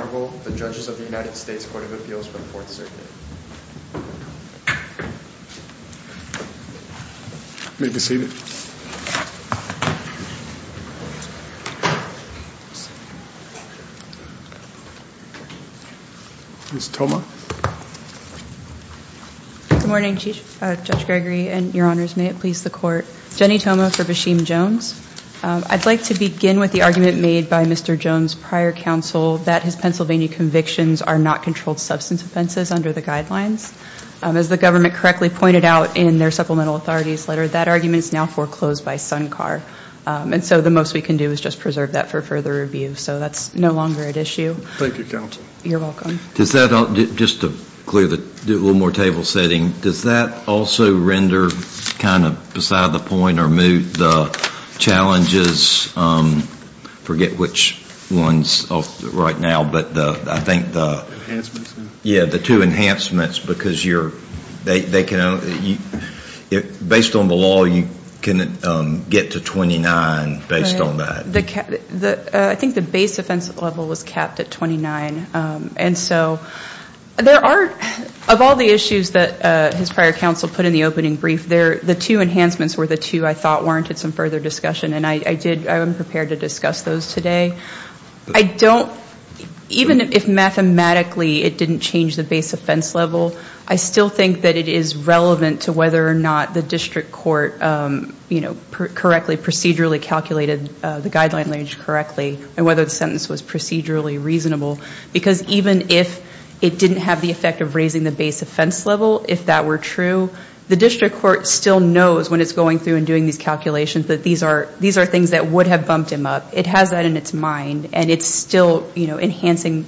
I'd like to begin with the argument made by Mr. Jones' prior counsel that his Pennsylvania convictions are not controlled substance offenses under the guidelines. As the government correctly pointed out in their supplemental authorities letter, that argument is now foreclosed by Sunkar. And so the most we can do is just preserve that for further review. So that's no longer at issue. Thank you, counsel. You're welcome. Does that, just to clear the, do a little more table setting, does that also render kind of beside the point or move the challenges, forget which ones right now, but I think the two enhancements, because they can, based on the law, you can get to 29 based on that. I think the base offense level was capped at 29. And so there are, of all the issues that his prior counsel put in the opening brief, the two enhancements were the two I thought warranted some further discussion. And I did, I am prepared to discuss those today. I don't, even if mathematically it didn't change the base offense level, I still think that it is relevant to whether or not the district court, you know, correctly, procedurally calculated the guideline language correctly and whether the sentence was procedurally reasonable. Because even if it didn't have the effect of raising the base offense level, if that were true, the district court still knows when it's going through and doing these calculations that these are things that would have bumped him up. It has that in its mind. And it's still, you know, enhancing,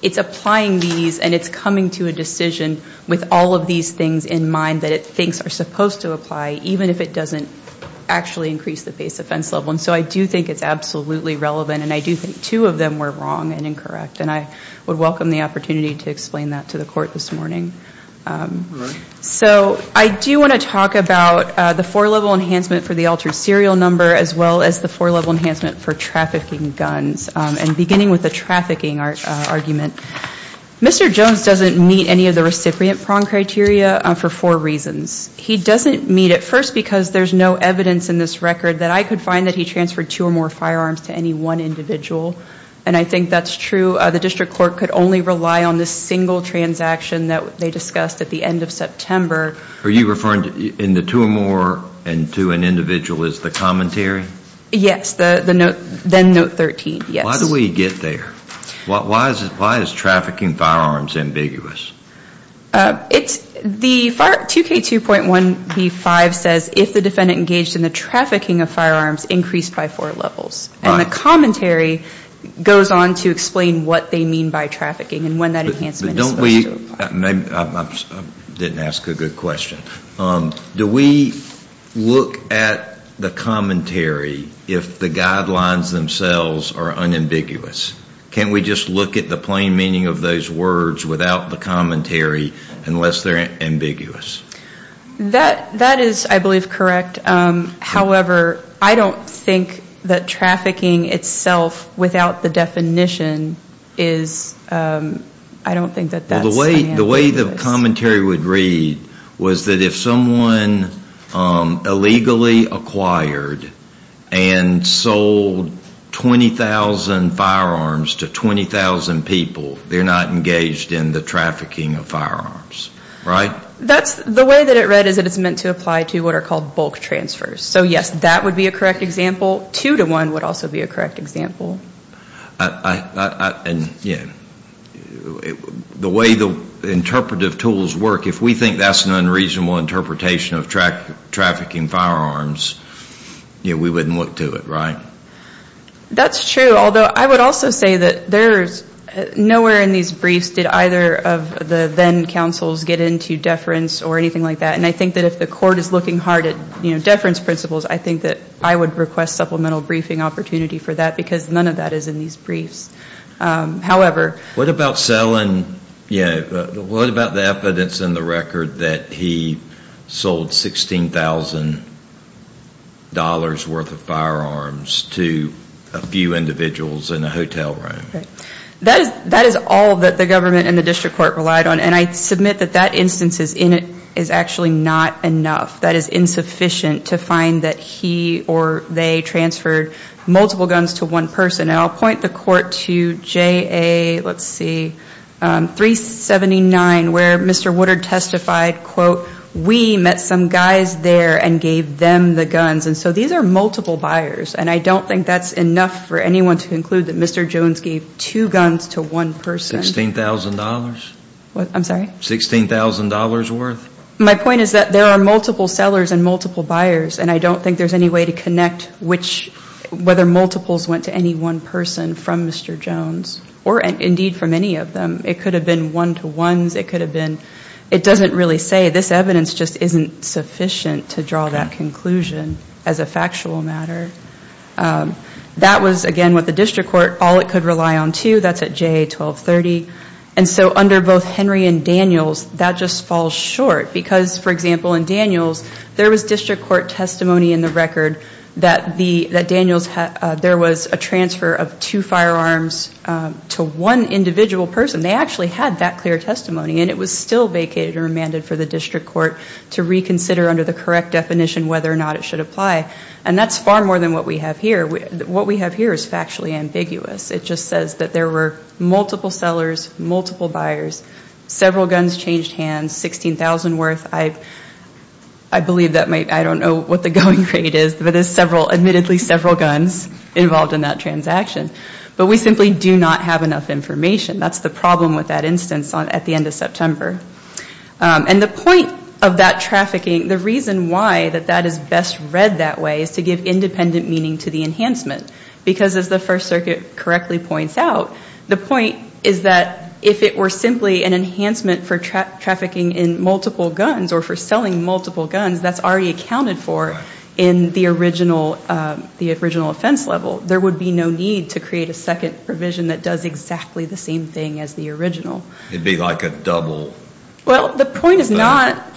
it's applying these and it's coming to a decision with all of these things in mind that it thinks are supposed to apply, even if it doesn't actually increase the base offense level. And so I do think it's absolutely relevant. And I do think two of them were wrong and incorrect. And I would welcome the opportunity to explain that to the court this morning. So I do want to talk about the four-level enhancement for the altered serial number as well as the four-level enhancement for trafficking guns. And beginning with the trafficking argument, Mr. Jones doesn't meet any of the recipient prong criteria for four reasons. He doesn't meet it first because there's no evidence in this record that I could find that he transferred two or more firearms to any one individual. And I think that's true. The district court could only rely on this single transaction that they discussed at the end of September. Are you referring to the two or more and to an individual as the commentary? Yes, the note, then note 13, yes. Why do we get there? Why is trafficking firearms ambiguous? It's the 2K2.1b5 says if the defendant engaged in the trafficking of firearms increased by four levels. And the commentary goes on to explain what they mean by trafficking and when that enhancement is supposed to apply. I didn't ask a good question. Do we look at the commentary if the guidelines themselves are unambiguous? Can we just look at the plain meaning of those words without the commentary unless they're ambiguous? That is, I believe, correct. However, I don't think that trafficking itself without the definition is, I don't think that that's ambiguous. The way the commentary would read was that if someone illegally acquired and sold 20,000 firearms to 20,000 people, they're not engaged in the trafficking of firearms, right? The way that it read is that it's meant to apply to what are called bulk transfers. So yes, that would be a correct example. Two to one would also be a correct example. The way the interpretive tools work, if we think that's an unreasonable interpretation of trafficking firearms, we wouldn't look to it, right? That's true, although I would also say that nowhere in these briefs did either of the then-counsels get into deference or anything like that. And I think that if the court is looking hard at deference principles, I think that I would request supplemental briefing opportunity for that because none of that is in these briefs. What about the evidence in the record that he sold 16,000 dollars worth of firearms to a few individuals in a hotel room? That is all that the government and the district court relied on, and I submit that that instance is actually not enough. That is insufficient to find that he or they transferred multiple guns to one person. And I'll point the court to JA, let's see, 379, where Mr. Woodard testified, quote, we met some guys there and gave them the guns. And so these are multiple buyers, and I don't think that's enough for anyone to conclude that Mr. Jones gave two guns to one person. Sixteen thousand dollars? What? I'm sorry? Sixteen thousand dollars worth? My point is that there are multiple sellers and multiple buyers, and I don't think there's any way to connect whether multiples went to any one person from Mr. Jones, or indeed from any of them. It could have been one-to-ones. It doesn't really say. This evidence just isn't sufficient to draw that conclusion as a factual matter. That was, again, what the district court, all it could rely on, too. That's at JA 1230. And so under both Henry and Daniels, that just falls short because, for example, in Daniels there was district court testimony in the record that Daniels, there was a transfer of two firearms to one individual person. They actually had that clear testimony, and it was still vacated or amended for the district court to reconsider under the correct definition whether or not it should apply. And that's far more than what we have here. What we have here is factually ambiguous. It just says that there were multiple sellers, multiple buyers, several guns changed hands, 16,000 worth. I believe that might, I don't know what the going rate is, but there's admittedly several guns involved in that transaction. But we simply do not have enough information. That's the problem with that instance at the end of September. And the point of that trafficking, the reason why that that is best read that way is to give independent meaning to the enhancement. Because as the First Circuit correctly points out, the point is that if it were simply an enhancement for trafficking in multiple guns or for selling multiple guns, that's already accounted for in the original offense level. There would be no need to create a second provision that does exactly the same thing as the original. It would be like a double. Well, the point is not,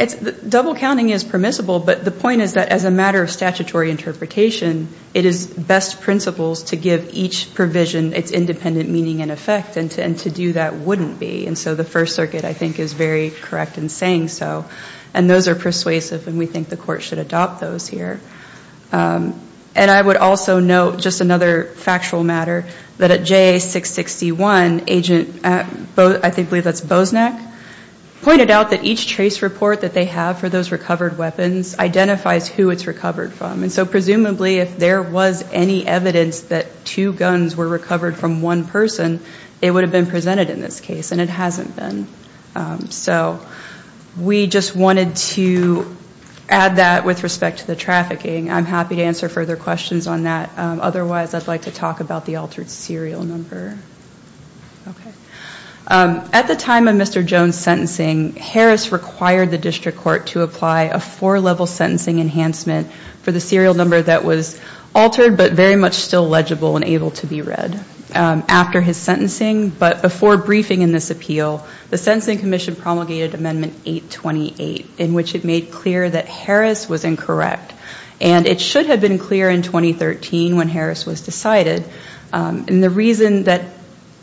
double counting is permissible, but the point is that as a matter of statutory interpretation, it is best principles to give each provision its independent meaning and effect and to do that wouldn't be. And so the First Circuit I think is very correct in saying so. And those are persuasive and we think the court should adopt those here. And I would also note just another factual matter that at JA-661, agent, I believe that's Boznak, pointed out that each trace report that they have for those recovered weapons identifies who it's recovered from. And so presumably if there was any evidence that two guns were recovered from one person, it would have been presented in this case and it hasn't been. So we just wanted to add that with respect to the trafficking. I'm happy to answer further questions on that. Otherwise, I'd like to talk about the altered serial number. At the time of Mr. Jones' sentencing, Harris required the district court to apply a four-level sentencing enhancement for the serial number that was altered but very much still legible and able to be read after his sentencing. But before briefing in this appeal, the Sentencing Commission promulgated Amendment 828 in which it made clear that Harris was incorrect. And it should have been clear in 2013 when Harris was decided. And the reason that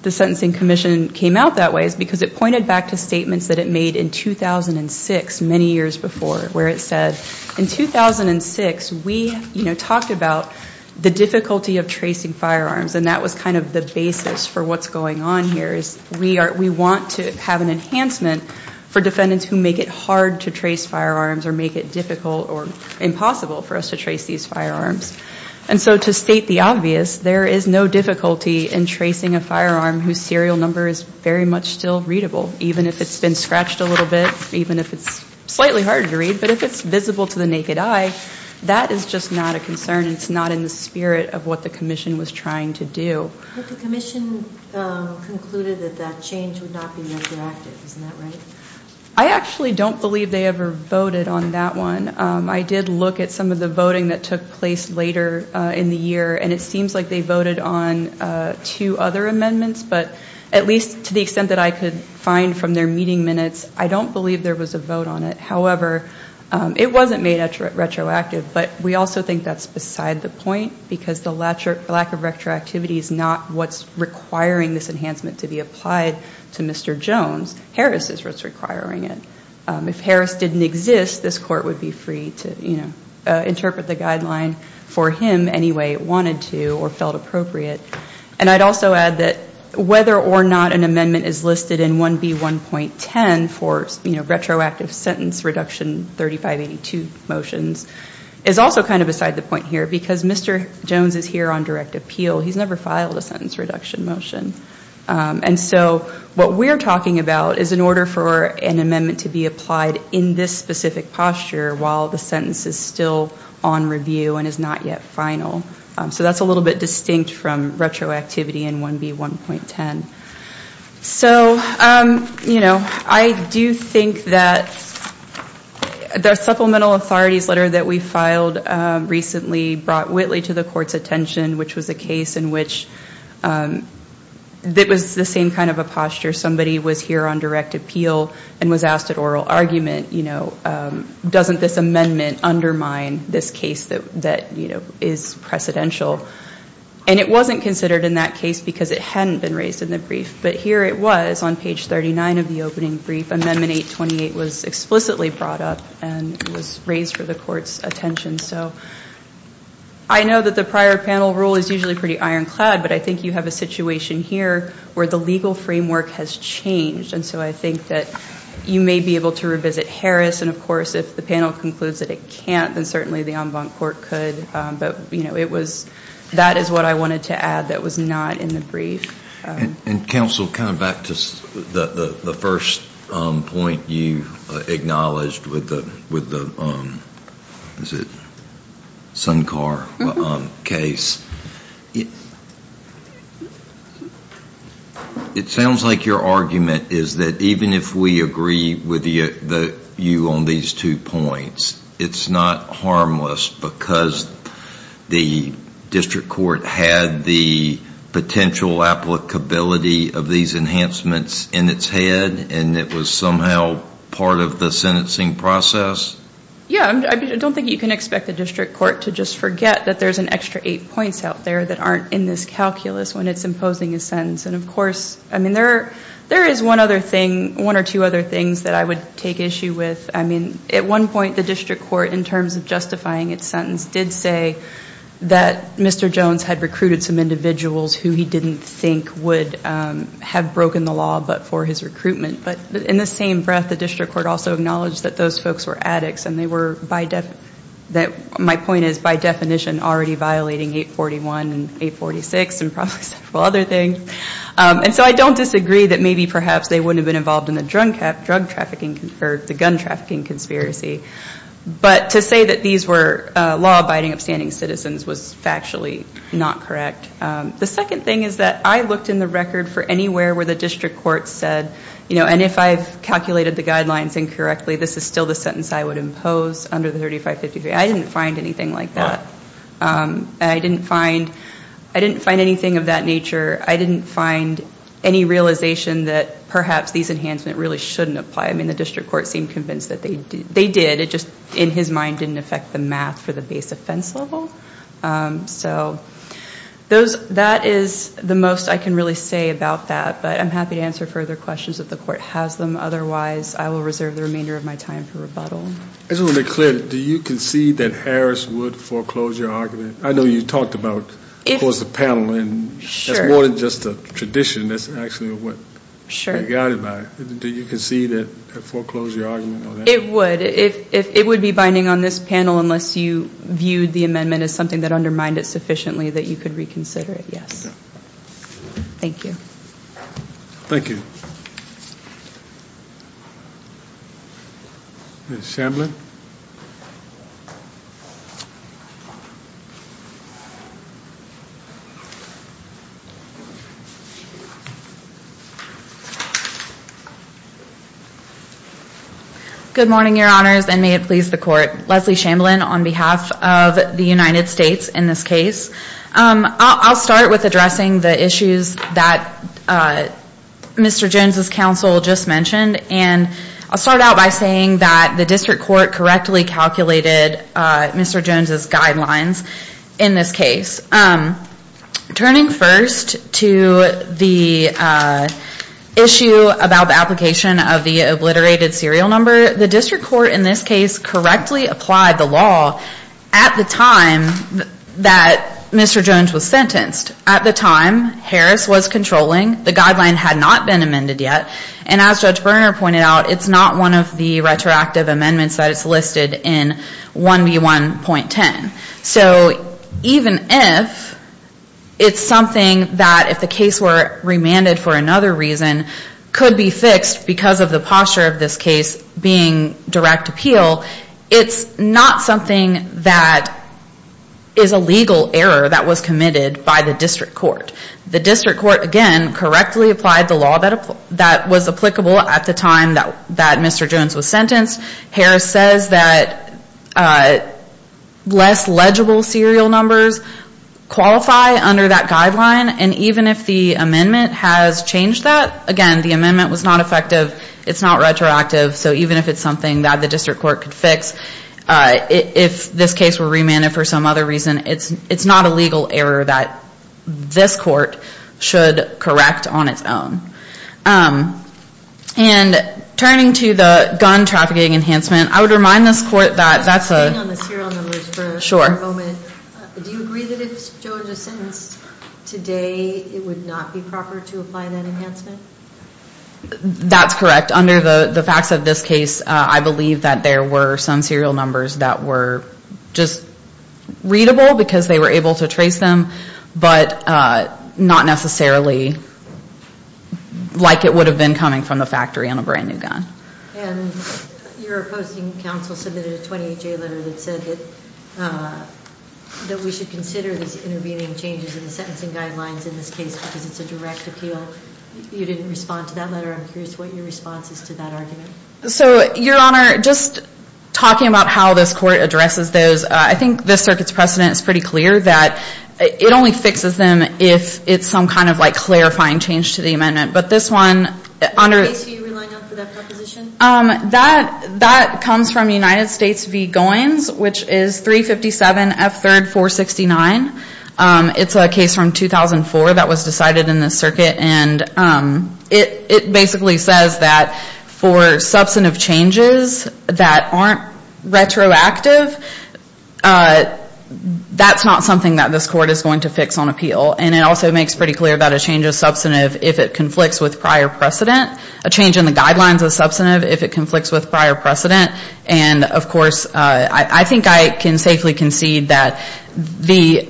the Sentencing Commission came out that way is because it pointed back to statements that it made in 2006, many years before, where it said, in 2006, we talked about the difficulty of tracing firearms. And that was kind of the basis for what's going on here is we want to have an enhancement for defendants who make it hard to trace firearms or make it difficult or impossible for us to trace these firearms. And so to state the obvious, there is no difficulty in tracing a firearm whose serial number is very much still readable, even if it's been scratched a little bit, even if it's slightly harder to read. But if it's visible to the naked eye, that is just not a concern. It's not in the spirit of what the Commission was trying to do. But the Commission concluded that that change would not be retroactive. Isn't that right? I actually don't believe they ever voted on that one. I did look at some of the voting that took place later in the year, and it seems like they voted on two other amendments. But at least to the extent that I could find from their meeting minutes, I don't believe there was a vote on it. However, it wasn't made retroactive. But we also think that's beside the point, because the lack of retroactivity is not what's requiring this enhancement to be applied to Mr. Jones. Harris is what's requiring it. If Harris didn't exist, this Court would be free to interpret the guideline for him any way it wanted to or felt appropriate. And I'd also add that whether or not an amendment is listed in 1B1.10 for retroactive sentence reduction 3582 motions is also kind of beside the point here, because Mr. Jones is here on direct appeal. He's never filed a sentence reduction motion. And so what we're talking about is in order for an amendment to be applied in this specific posture while the sentence is still on review and is not yet final. So that's a little bit distinct from retroactivity in 1B1.10. So I do think that the supplemental authorities letter that we filed recently brought Whitley to the Court's attention, which was a case in which it was the same kind of a posture. Somebody was here on direct appeal and was asked at oral argument, doesn't this amendment undermine this case that is precedential? And it wasn't considered in that case because it hadn't been raised in the brief. But here it was on page 39 of the opening brief. Amendment 828 was explicitly brought up and was raised for the Court's attention. So I know that the prior panel rule is usually pretty ironclad, but I think you have a situation here where the legal framework has changed. And so I think that you may be able to revisit Harris. And of course, if the panel concludes that it can't, then certainly the en banc court could. But that is what I wanted to add that was not in the brief. And Counsel, kind of back to the first point you acknowledged with the Sunkar case. It sounds like your argument is that even if we agree with you on these two points, it's not harmless because the district court had the potential applicability of these enhancements in its head and it was somehow part of the sentencing process? Yeah. I don't think you can expect the district court to just forget that there's an extra eight points out there that aren't in this calculus when it's imposing a sentence. And of course, I mean, there is one other thing, one or two other things that I would take issue with. I mean, at one point, the district court, in terms of justifying its sentence, did say that Mr. Jones had recruited some individuals who he didn't think would have broken the law but for his recruitment. But in the same breath, the district court also acknowledged that those folks were addicts and they were, my point is, by definition already violating 841 and 846 and probably several other things. And so I don't disagree that maybe perhaps they wouldn't have been involved in the drug trafficking or the gun trafficking conspiracy. But to say that these were law-abiding, upstanding citizens was factually not correct. The second thing is that I looked in the record for anywhere where the district court said, you know, and if I've calculated the guidelines incorrectly, this is still the sentence I would impose under the 3553. I didn't find anything like that. And I didn't find, I didn't find anything of that nature. I didn't find any realization that perhaps these enhancements really shouldn't apply. I mean, the district court seemed convinced that they did. It just, in his mind, didn't affect the math for the base offense level. So that is the most I can really say about that. But I'm happy to answer further questions if the court has them. Otherwise, I will reserve the remainder of my time for rebuttal. It's really clear. Do you concede that Harris would foreclose your argument? I know you talked about, of course, the panel, and that's more than just a tradition. That's actually what I'm guided by. Do you concede that it foreclosed your argument on that? It would. It would be binding on this panel unless you viewed the amendment as something that undermined it sufficiently that you could reconsider it, yes. Thank you. Ms. Shamblin? Good morning, your honors, and may it please the court. Leslie Shamblin on behalf of the United States in this case. I'll start with addressing the issues that Mr. Jones' counsel just mentioned, and I'll start out by saying that the district court correctly calculated Mr. Jones' guidelines in this case. Turning first to the issue about the application of the obliterated serial number, the district court in this case correctly applied the law at the time that Mr. Jones was sentenced. At the time, Harris was controlling. The guideline had not been amended yet, and as Judge Berner pointed out, it's not one of the retroactive amendments that is listed in 1B1.10. So even if it's something that if the case were remanded for another reason could be fixed because of the posture of this case being direct appeal, it's not something that is a legal error that the district court could fix. The district court, again, correctly applied the law that was applicable at the time that Mr. Jones was sentenced. Harris says that less legible serial numbers qualify under that guideline, and even if the amendment has changed that, again, the amendment was not effective. It's not retroactive. So even if it's something that the district court could fix, if this case were remanded for some other reason, it's not a legal error that this court should correct on its own. And turning to the gun trafficking enhancement, I would remind this court that that's a... Just to stay on the serial numbers for a moment, do you agree that if Mr. Jones was sentenced today, it would not be proper to apply that enhancement? That's correct. Under the facts of this case, I believe that there were some serial numbers that were just readable because they were able to trace them, but not necessarily like it would have been coming from the factory on a brand new gun. And your opposing counsel submitted a 20HA letter that said that we should consider these intervening changes in the sentencing guidelines in this case because it's a direct appeal. You didn't respond to that letter. I'm curious what your response is to that argument. So Your Honor, just talking about how this court addresses those, I think this circuit's precedent is pretty clear that it only fixes them if it's some kind of like clarifying change to the amendment. But this one, Your Honor... What case are you relying on for that proposition? That comes from United States v. Goins, which is 357F3469. It's a case from 2004 that was substantive changes that aren't retroactive. That's not something that this court is going to fix on appeal. And it also makes pretty clear that a change is substantive if it conflicts with prior precedent. A change in the guidelines is substantive if it conflicts with prior precedent. And of course, I think I can safely concede that the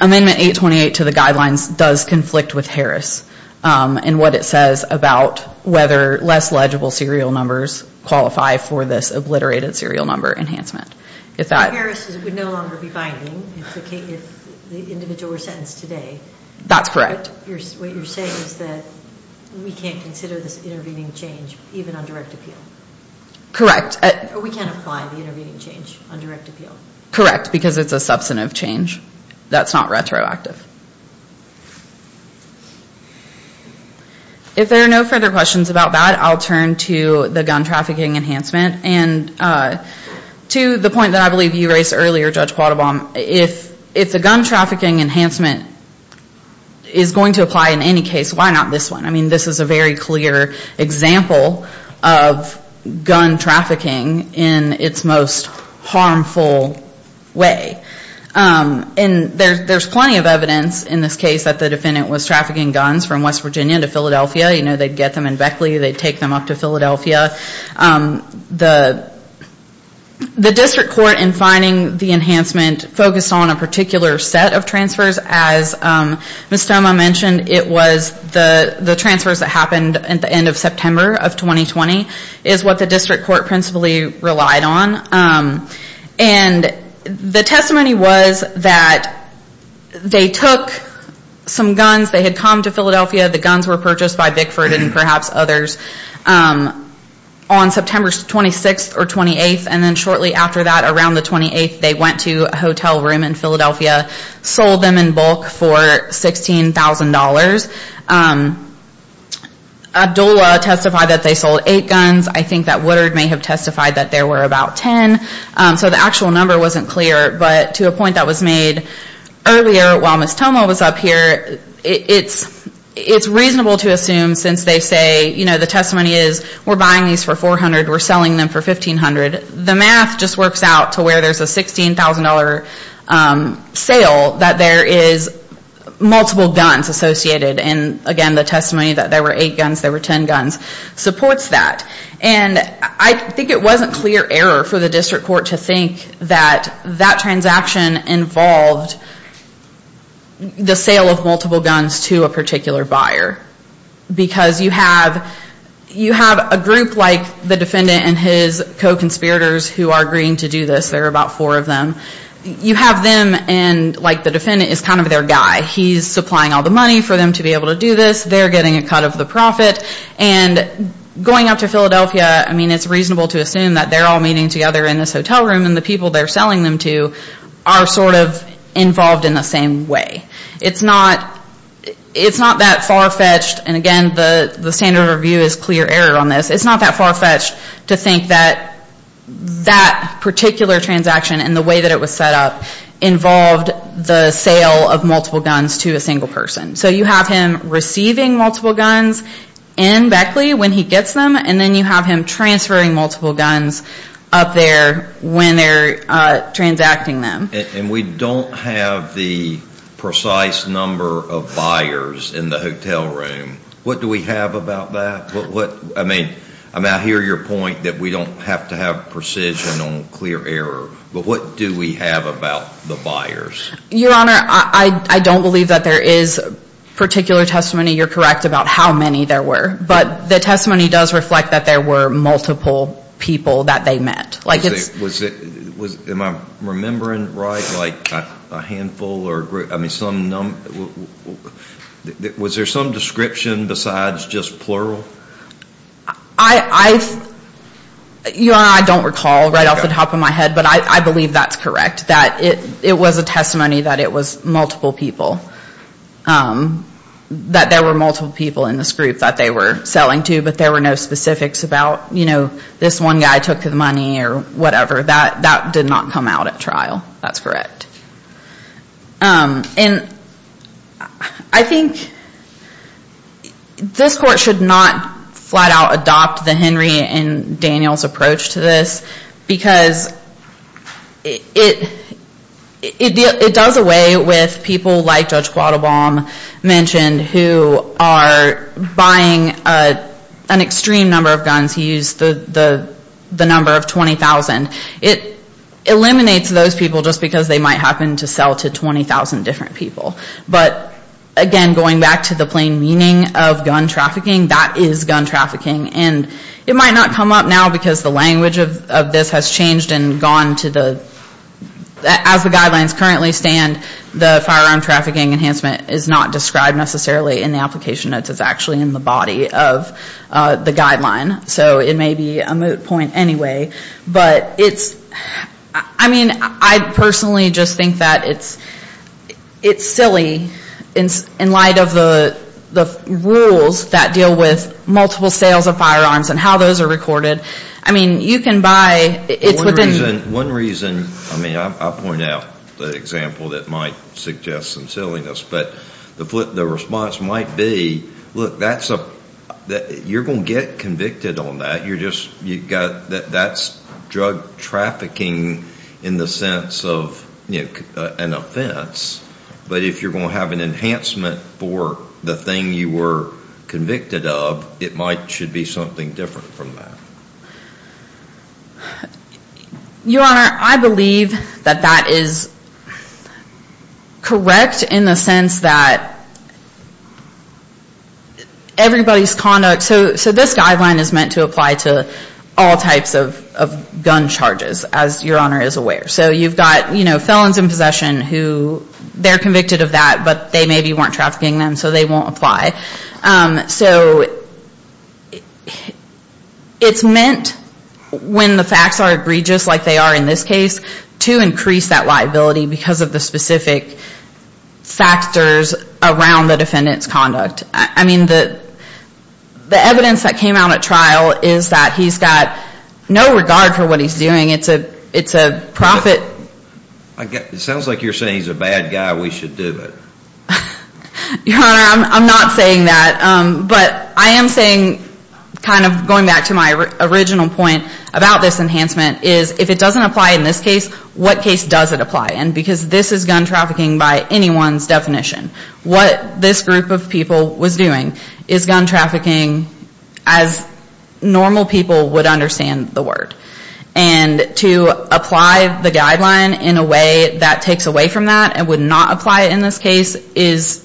amendment 828 to the guidelines does conflict with Harris in what it says about whether less legible serial numbers qualify for this obliterated serial number enhancement. If Harris would no longer be binding, if the individual were sentenced today... That's correct. What you're saying is that we can't consider this intervening change even on direct appeal? Correct. Or we can't apply the intervening change on direct appeal? Correct, because it's a substantive change that's not retroactive. If there are no further questions about that, I'll turn to the gun trafficking enhancement. And to the point that I believe you raised earlier, Judge Quattlebaum, if the gun trafficking enhancement is going to apply in any case, why not this one? I mean, this is a very clear example of gun trafficking in its most harmful way. And there's plenty of evidence in this case that the defendant was trafficking guns from West Virginia to Philadelphia. You know, they'd get them in Beckley, they'd take them up to Philadelphia. The district court, in finding the enhancement, focused on a particular set of transfers. As Ms. Stoma mentioned, it was the transfers that happened at the end of September of 2020 is what the district court principally relied on. And the testimony was that they took some guns, they had come to Philadelphia, the guns were purchased by Bickford and perhaps others on September 26th or 28th, and then shortly after that, around the 28th, they went to a hotel room in Philadelphia, sold them in bulk for $16,000. Abdulla testified that they sold eight guns. I think that Woodard may have testified that there were about ten. So the actual number wasn't clear. But to a point that was made earlier, while Ms. Stoma was up here, it's reasonable to assume since they say, you know, the testimony is, we're buying these for $400, we're selling them for $1,500. The math just works out to where there's a $16,000 sale that there is multiple guns associated. And again, the testimony that there were eight guns, there were ten guns, supports that. And I think it wasn't clear error for the district court to think that that transaction involved the sale of multiple guns to a particular buyer. Because you have a group like the defendant and his co-conspirators who are agreeing to do this. There are about four of them. You have them and like the defendant is kind of their guy. He's supplying all the money for them to be able to do this. They're getting a cut of the profit. And going up to Philadelphia, I mean, it's reasonable to assume that they're all meeting together in this hotel room and the people they're selling them to are sort of involved in the same way. It's not that far-fetched. And again, the standard of review is clear error on this. It's not that far-fetched to think that that particular transaction and the way that it was set up involved the sale of multiple guns to a single person. So you have him receiving multiple guns in Beckley when he gets them. And then you have him transferring multiple guns up there when they're transacting them. And we don't have the precise number of buyers in the hotel room. What do we have about that? I mean, I hear your point that we don't have to have precision on clear error. But what do we have about the buyers? Your Honor, I don't believe that there is particular testimony. You're correct about how many there were. But the testimony does reflect that there were multiple people that they met. Was it, am I remembering right, like a handful or a group? I mean, was there some description besides just plural? Your Honor, I don't recall right off the top of my head. But I believe that's correct. That it was a testimony that it was multiple people. That there were multiple people in this group that they were selling to. But there were no specifics about, you know, this one guy took the money or whatever. That did not come out at trial. That's correct. And I think this Court should not flat out adopt the Henry and Daniels approach to this because it does away with people like Judge Quattlebaum mentioned who are buying an extreme number of guns. He used the number of 20,000. It eliminates those people just because they might happen to sell to 20,000 different people. But again, going back to the plain meaning of gun trafficking, that is gun trafficking. And it might not come up now because the language of this has changed and gone to the, as the guidelines currently stand, the firearm trafficking enhancement is not described necessarily in the application notes. It's actually in the body of the guideline. So it may be a moot point anyway. But it's, I mean, I personally just think that it's silly in light of the rules that deal with multiple sales of firearms and how those are recorded. I mean, you can buy, it's within... One reason, I mean, I'll point out the example that might suggest some silliness. But the response might be, look, that's a, you're going to get convicted on that. You're just, that's drug trafficking in the sense of an offense. But if you're going to have an enhancement for the thing you were convicted of, it might, should be something different from that. Your Honor, I believe that that is correct in the sense that everybody's conduct, so this guideline is meant to apply to all types of gun charges, as Your Honor is aware. So you've got, you know, felons in possession who, they're convicted of that, but they maybe weren't trafficking them, so they won't apply. So it's meant when the facts are egregious like they are in this case, to increase that liability because of the specific factors around the defendant's conduct. I mean, the evidence that came out at trial is that he's got no regard for what he's doing. It's a profit... It sounds like you're saying he's a bad guy, we should do it. Your Honor, I'm not saying that. But I am saying, kind of going back to my original point about this enhancement, is if it doesn't apply in this case, what case does it apply in? Because this is gun trafficking by anyone's definition. What this group of people was doing is gun trafficking as normal people would understand the word. And to apply the guideline in a way that takes away from that, and would not apply it in this case, is,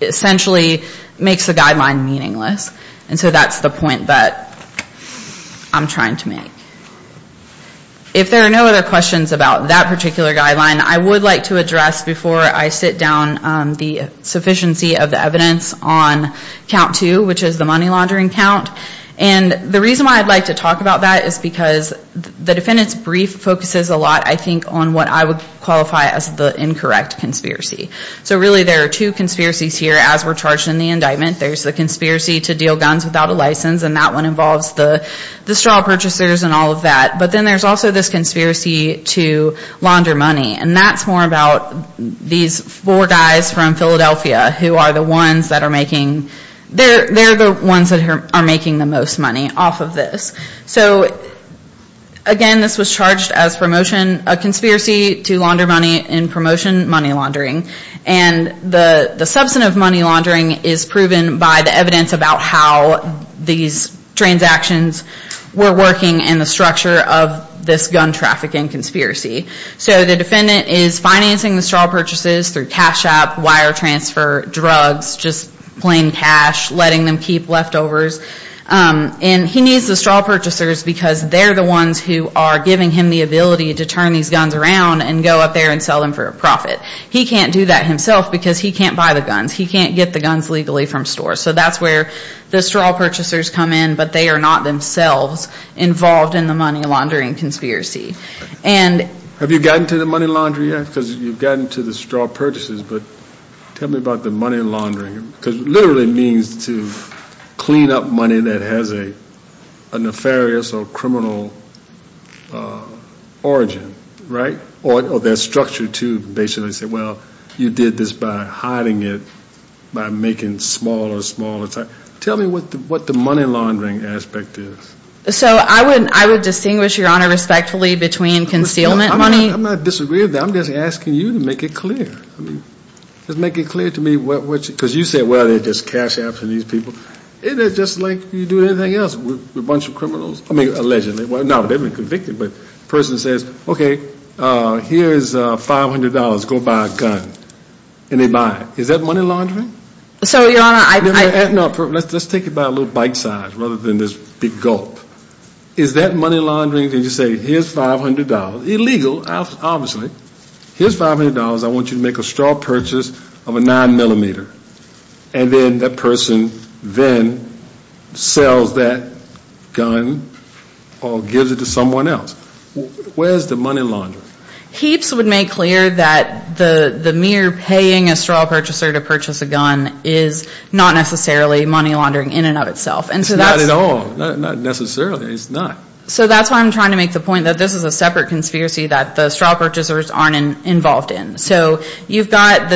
essentially, makes the guideline meaningless. And so that's the point that I'm trying to make. If there are no other questions about that particular guideline, I would like to address before I sit down the sufficiency of the evidence on count two, which is the money laundering count. And the reason why I'd like to talk about that is because the defendant's brief focuses a lot, I think, on what I would qualify as the incorrect conspiracy. So really there are two conspiracies here as we're charged in the indictment. There's the conspiracy to deal guns without a license, and that one involves the straw purchasers and all of that. But then there's also this conspiracy to launder money. And that's more about these four guys from Philadelphia who are the ones that are making, they're the ones that are making the most money off of this. So, again, this was charged as promotion, a conspiracy to launder money in promotion money laundering. And the substantive money laundering is proven by the evidence about how these transactions were working and the structure of this gun traffic and conspiracy. So the defendant is financing the straw purchases through cash shop, wire transfer, drugs, just plain cash, letting them keep leftovers. And he needs the straw purchasers because they're the ones who are giving him the ability to turn these guns around and go up there and sell them for a profit. He can't do that himself because he can't buy the guns. He can't get the guns legally from stores. So that's where the straw purchasers come in, but they are not themselves involved in the money laundering conspiracy. And Have you gotten to the money laundering yet? Because you've gotten to the straw purchases, but tell me about the money laundering. Because it literally means to clean up money that has a nefarious or criminal origin, right? Or their structure to basically say, well, you did this by hiding it by making smaller and smaller. Tell me what the money laundering aspect is. So I would distinguish, Your Honor, respectfully between concealment money I'm not disagreeing with that. I'm just asking you to make it clear. Just make it clear to me what, because you said, well, they're just cash apps and these people. Isn't it just like you do anything else with a bunch of criminals? I mean, allegedly. Well, no, they've been convicted, but the person says, okay, here's $500. Go buy a gun. And they buy it. Is that money laundering? So, Your Honor, I No, let's take it by a little bite size rather than this big gulp. Is that money laundering? Did you say, here's $500? Illegal, obviously. Here's $500. I want you to make a straw purchase of a 9mm. And then that person then sells that gun or gives it to someone else. Where's the money laundering? Heaps would make clear that the mere paying a straw purchaser to purchase a gun is not necessarily money laundering in and of itself. It's not at all. Not necessarily. It's not. So that's why I'm trying to make the point that this is a separate conspiracy that the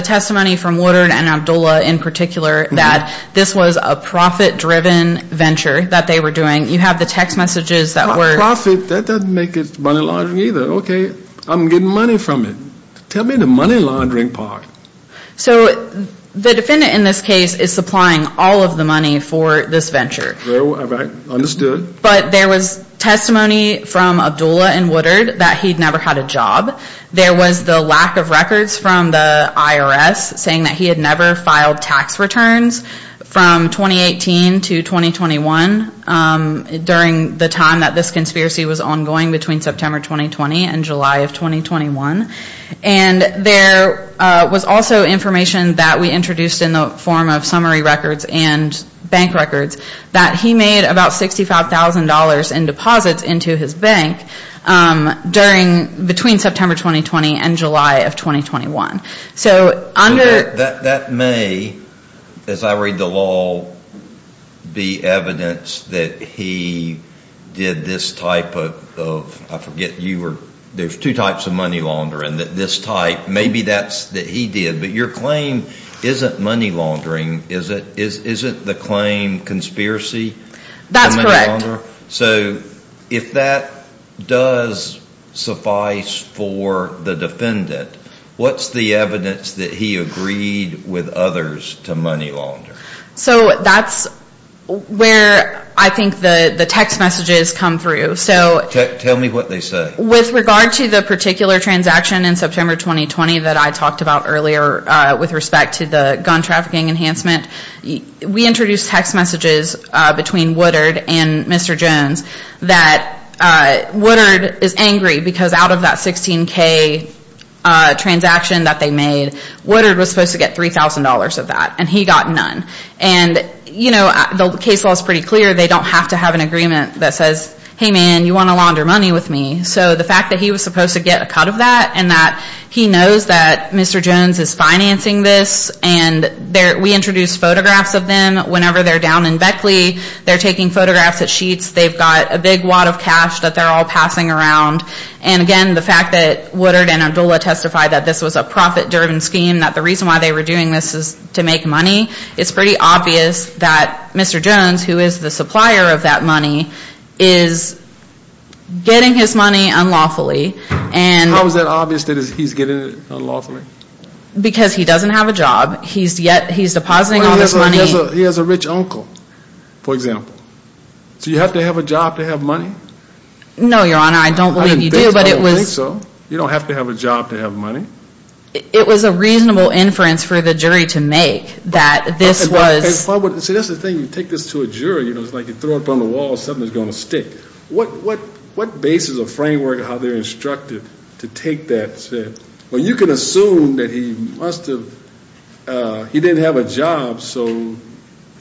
testimony from Woodard and Abdullah in particular that this was a profit-driven venture that they were doing. You have the text messages that were Profit? That doesn't make it money laundering either. Okay. I'm getting money from it. Tell me the money laundering part. So the defendant in this case is supplying all of the money for this venture. Well, I understood. But there was testimony from Abdullah and Woodard that he'd never had a job. There was the lack of records from the IRS saying that he had never filed tax returns from 2018 to 2021 during the time that this conspiracy was ongoing between September 2020 and July of 2021. And there was also information that we introduced in the form of summary records and bank records that he made about $65,000 in deposits into his bank during, between July of 2021. So under... That may, as I read the law, be evidence that he did this type of, I forget, you were, there's two types of money laundering. This type, maybe that's that he did. But your claim isn't money laundering, is it? Isn't the claim conspiracy? That's correct. So if that does suffice for the defendant, what's the evidence that he agreed with others to money laundering? So that's where I think the text messages come through. So... Tell me what they say. With regard to the particular transaction in September 2020 that I talked about earlier with respect to the gun trafficking enhancement, we introduced text messages between Woodard and Mr. Jones that Woodard is angry because out of that $16,000 transaction that they made, Woodard was supposed to get $3,000 of that and he got none. And, you know, the case law is pretty clear. They don't have to have an agreement that says, hey man, you want to launder money with me. So the fact that he was supposed to get a cut of that and that he knows that Mr. Jones is financing this and we introduced photographs of them whenever they're down in Beckley. They're taking photographs at Sheetz. They've got a big wad of cash that they're all passing around. And again, the fact that Woodard and Abdullah testified that this was a profit-driven scheme, that the reason why they were doing this is to make money, it's pretty obvious that Mr. Jones, who is the supplier of that money, is getting his money unlawfully. How is that obvious that he's getting it unlawfully? Because he doesn't have a job. He's yet, he's depositing all this money. He has a rich uncle, for example. So you have to have a job to have money? No, Your Honor, I don't believe you do, but it was. I don't think so. You don't have to have a job to have money. It was a reasonable inference for the jury to make that this was. So that's the thing, you take this to a jury, you know, it's like you throw it up on the wall, something's going to stick. What basis or framework of how they're instructed to take that? Well, you can assume that he must have, he didn't have a job, so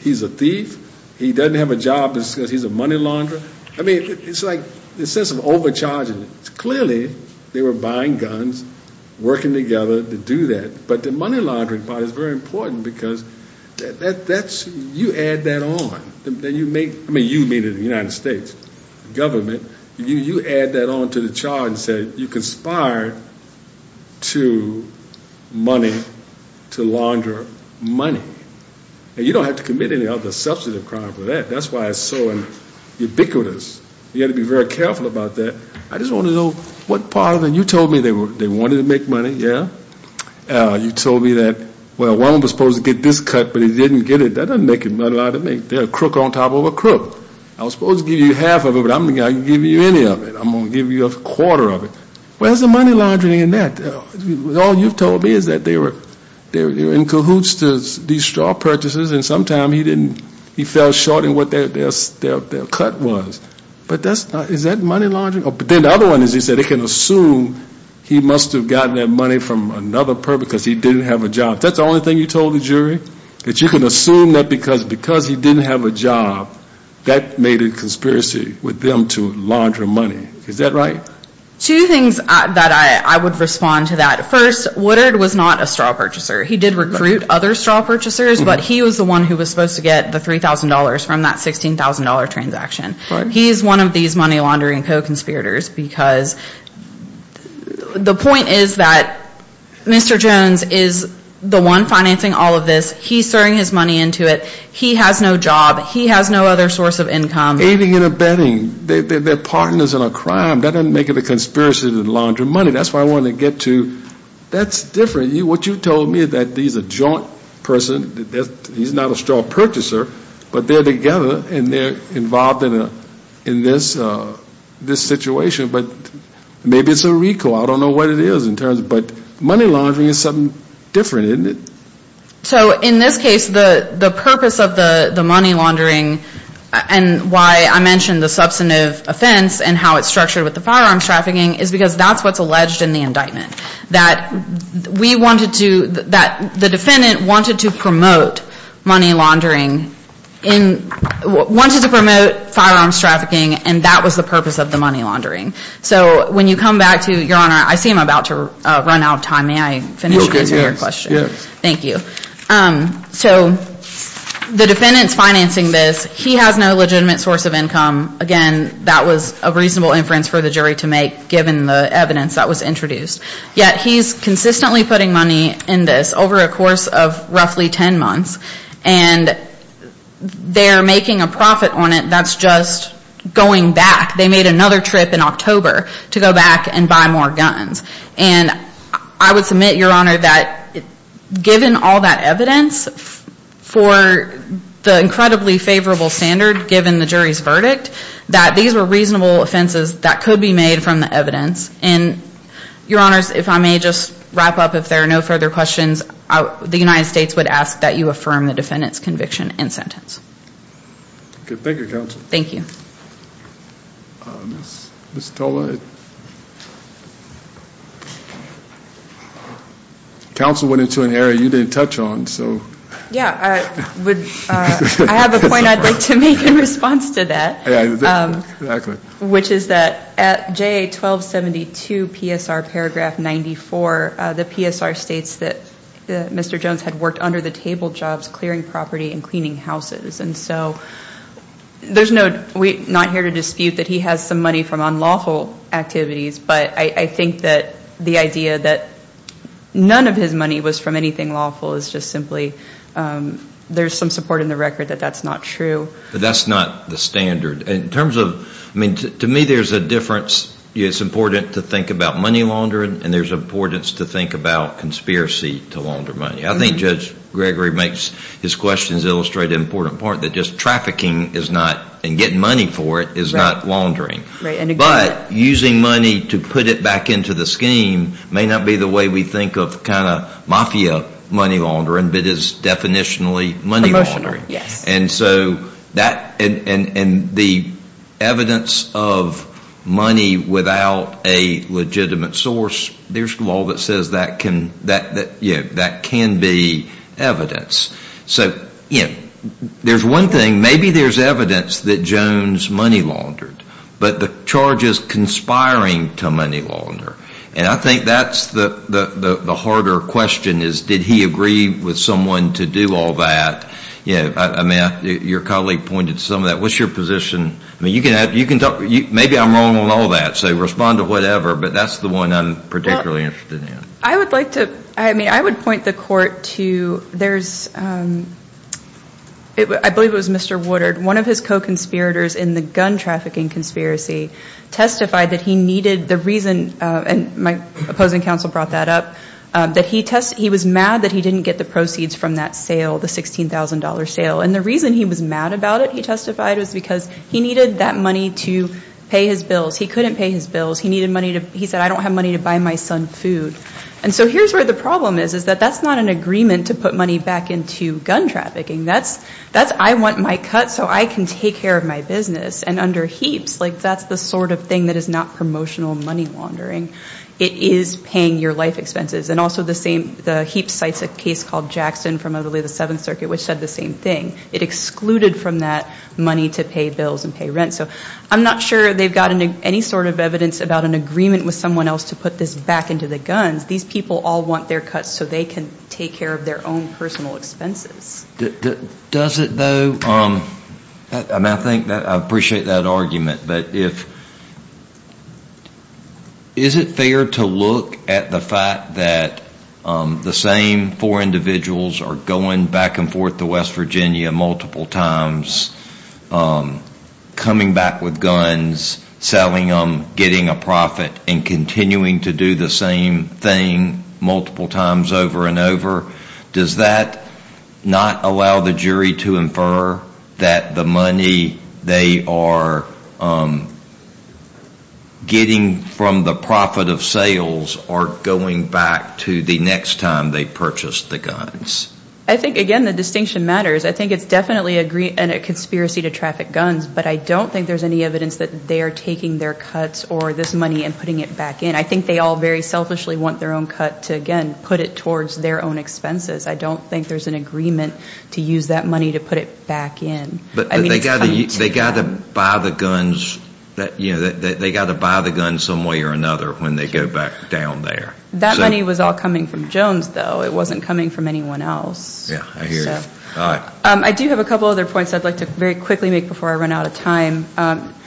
he's a thief. He doesn't have a job because he's a money launderer. I mean, it's like the sense of overcharging it. Clearly, they were buying guns, working together to do that. But the money laundering part is very important because that's, you add that on. I mean, you made it in the United States government. You add that on to the charge that you conspired to money, to launder money. And you don't have to commit any other substantive crime for that. That's why it's so ubiquitous. You have to be very careful about that. I just want to know what part of it, you told me they wanted to make money, yeah? You told me that, well, one of them was supposed to get this cut, but he didn't get it. That doesn't make a lot of money. They're a crook on top of a crook. I was supposed to give you half of it, but I'm going to give you any of it. I'm going to give you a quarter of it. Where's the money laundering in that? All you've told me is that they were in cahoots to these straw purchases and sometime he didn't, he fell short in what their cut was. But that's not, is that money laundering? But then the other one is he said he can assume he must have gotten that money from another perp because he didn't have a job. That's the only thing you told the jury? That you can assume that because he didn't have a job, that made a conspiracy with them to launder money. Is that right? Two things that I would respond to that. First, Woodard was not a straw purchaser. He did recruit other straw purchasers, but he was the one who was supposed to get the $3,000 from that $16,000 transaction. He's one of these money laundering co-conspirators because the point is that Mr. Jones is the one financing all of this. He's throwing his money into it. He has no job. He has no other source of income. Aiding and abetting. They're partners in a crime. That doesn't make it a conspiracy to launder money. That's why I wanted to get to, that's different. What you told me is that he's a joint person, he's not a straw purchaser, but they're together and they're involved in this situation. Maybe it's a recall. I don't know what it is. But money laundering is something different, isn't it? In this case, the purpose of the money laundering and why I mentioned the substantive offense and how it's structured with the firearms trafficking is because that's what's alleged in the indictment. That the defendant wanted to promote money laundering, wanted to promote firearms trafficking, and that was the purpose of the money laundering. So when you come back to, Your Honor, I see I'm about to run out of time. May I finish answering your question? Thank you. So the defendant's financing this. He has no legitimate source of income. Again, that was a reasonable inference for the jury to make given the evidence that was introduced. Yet he's consistently putting money in this over a course of roughly 10 months and they're making a profit on it that's just going back. They made another trip in October to go back and buy more guns. And I would submit, Your Honor, that given all that evidence for the incredibly favorable standard given the jury's verdict, that these were reasonable offenses that could be made from the evidence. And, Your Honors, if I may just wrap up, if there are no further questions, the United States would ask that you affirm the defendant's conviction and sentence. Thank you, Counsel. Thank you. Counsel went into an area you didn't touch on, so. Yeah, I have a point I'd like to make in response to that, which is that at JA 1272 PSR paragraph 94, the PSR states that Mr. Jones had worked under the table jobs clearing property and cleaning houses. And so there's no, we're not here to dispute that he has some money from unlawful activities, but I think that the idea that none of his money was from anything lawful is just simply, there's some support in the record that that's not true. That's not the standard. In terms of, I mean, to me there's a difference. It's important to think about money laundering and there's importance to think about conspiracy to launder money. I think Judge Gregory makes his questions illustrate an important part that just trafficking is not, and getting money for it, is not laundering. But using money to put it back into the scheme may not be the way we think of kind of mafia money laundering, but it is definitionally money laundering. Promotional, yes. And so that, and the evidence of money without a legitimate source, there's law that says that can be evidence. So there's one thing, maybe there's evidence that Jones money laundered, but the charge is conspiring to money launder. And I think that's the harder question is did he agree with someone to do all that. I mean, your colleague pointed to some of that. What's your position? I mean, you can talk, maybe I'm wrong on all that, so respond to whatever, but that's the one I'm particularly interested in. I would like to, I mean, I would point the court to, there's, I believe it was Mr. Woodard. One of his co-conspirators in the gun trafficking conspiracy testified that he needed, the reason, and my opposing counsel brought that up, that he was mad that he didn't get the proceeds from that sale, the $16,000 sale. And the reason he was mad about it, he testified, was because he needed that money to pay his bills. He couldn't pay his bills. He needed money to, he said, I don't have money to buy my son food. And so here's where the problem is, is that that's not an agreement to put money back into gun trafficking. That's, that's, I want my cut so I can take care of my business. And under Heaps, like, that's the sort of thing that is not promotional money laundering. It is paying your life expenses. And also the same, the Heaps cites a case called Jackson from, I believe, the Seventh Circuit, which said the same thing. It excluded from that money to pay bills and pay rent. So I'm not sure they've got any sort of evidence about an agreement with someone else to put this back into the guns. These people all want their cuts so they can take care of their own personal expenses. Does it, though, and I think that, I appreciate that argument, but if, is it fair to look at the fact that the same four individuals are going back and forth to West Virginia multiple times, coming back with guns, selling them, getting a profit, and continuing to do the same thing multiple times over and over, does that not allow the jury to infer that the money they are getting from the profit of sales are going back to the next time they purchased the guns? I think, again, the distinction matters. I think it's definitely a conspiracy to traffic guns, but I don't think there's any evidence that they are taking their cuts or this money and putting it back in. I think they all very selfishly want their own cut to, again, put it towards their own expenses. I don't think there's an agreement to use that money to put it back in. But they've got to buy the guns, you know, they've got to buy the guns some way or another when they go back down there. That money was all coming from Jones, though. It wasn't coming from anyone else. Yeah, I hear you. I do have a couple other points I'd like to very quickly make before I run out of time.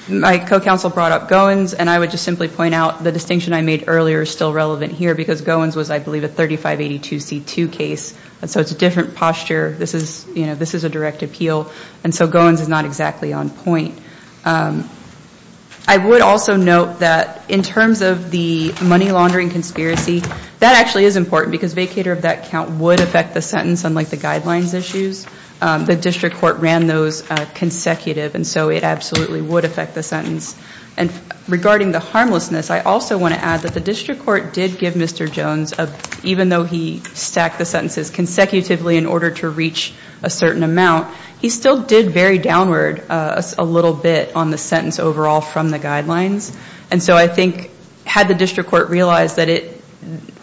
My co-counsel brought up Goins, and I would just simply point out the distinction I made earlier is still relevant here because Goins was, I believe, a 3582C2 case, and so it's a different posture. This is, you know, this is a direct appeal, and so Goins is not exactly on point. I would also note that in terms of the money laundering conspiracy, that actually is important because vacator of that count would affect the sentence, unlike the guidelines issues. The district court ran those consecutive, and so it absolutely would affect the sentence. And regarding the harmlessness, I also want to add that the district court did give Mr. Jones, even though he stacked the sentences consecutively in order to reach a certain amount, he still did vary downward a little bit on the sentence overall from the guidelines. And so I think had the district court realized that it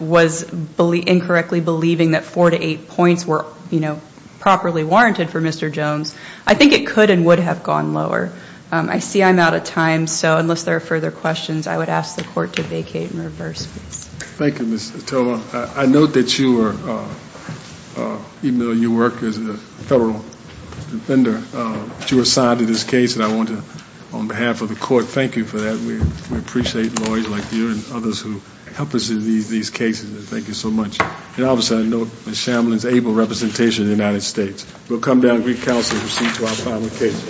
was incorrectly believing that four to eight points were, you know, properly warranted for Mr. Jones, I think it could and would have gone lower. I see I'm out of time, so unless there are further questions, I would ask the court to vacate and reverse. Thank you, Ms. Ottowa. I note that you were, even though you work as a federal defender, that you were assigned to this case, and I want to, on behalf of the court, thank you for that. We appreciate lawyers like you and others who help us in these cases, and thank you so much. And obviously, I note Ms. Shamblin's able representation in the United States. We'll come down and get counsel to proceed to our final case.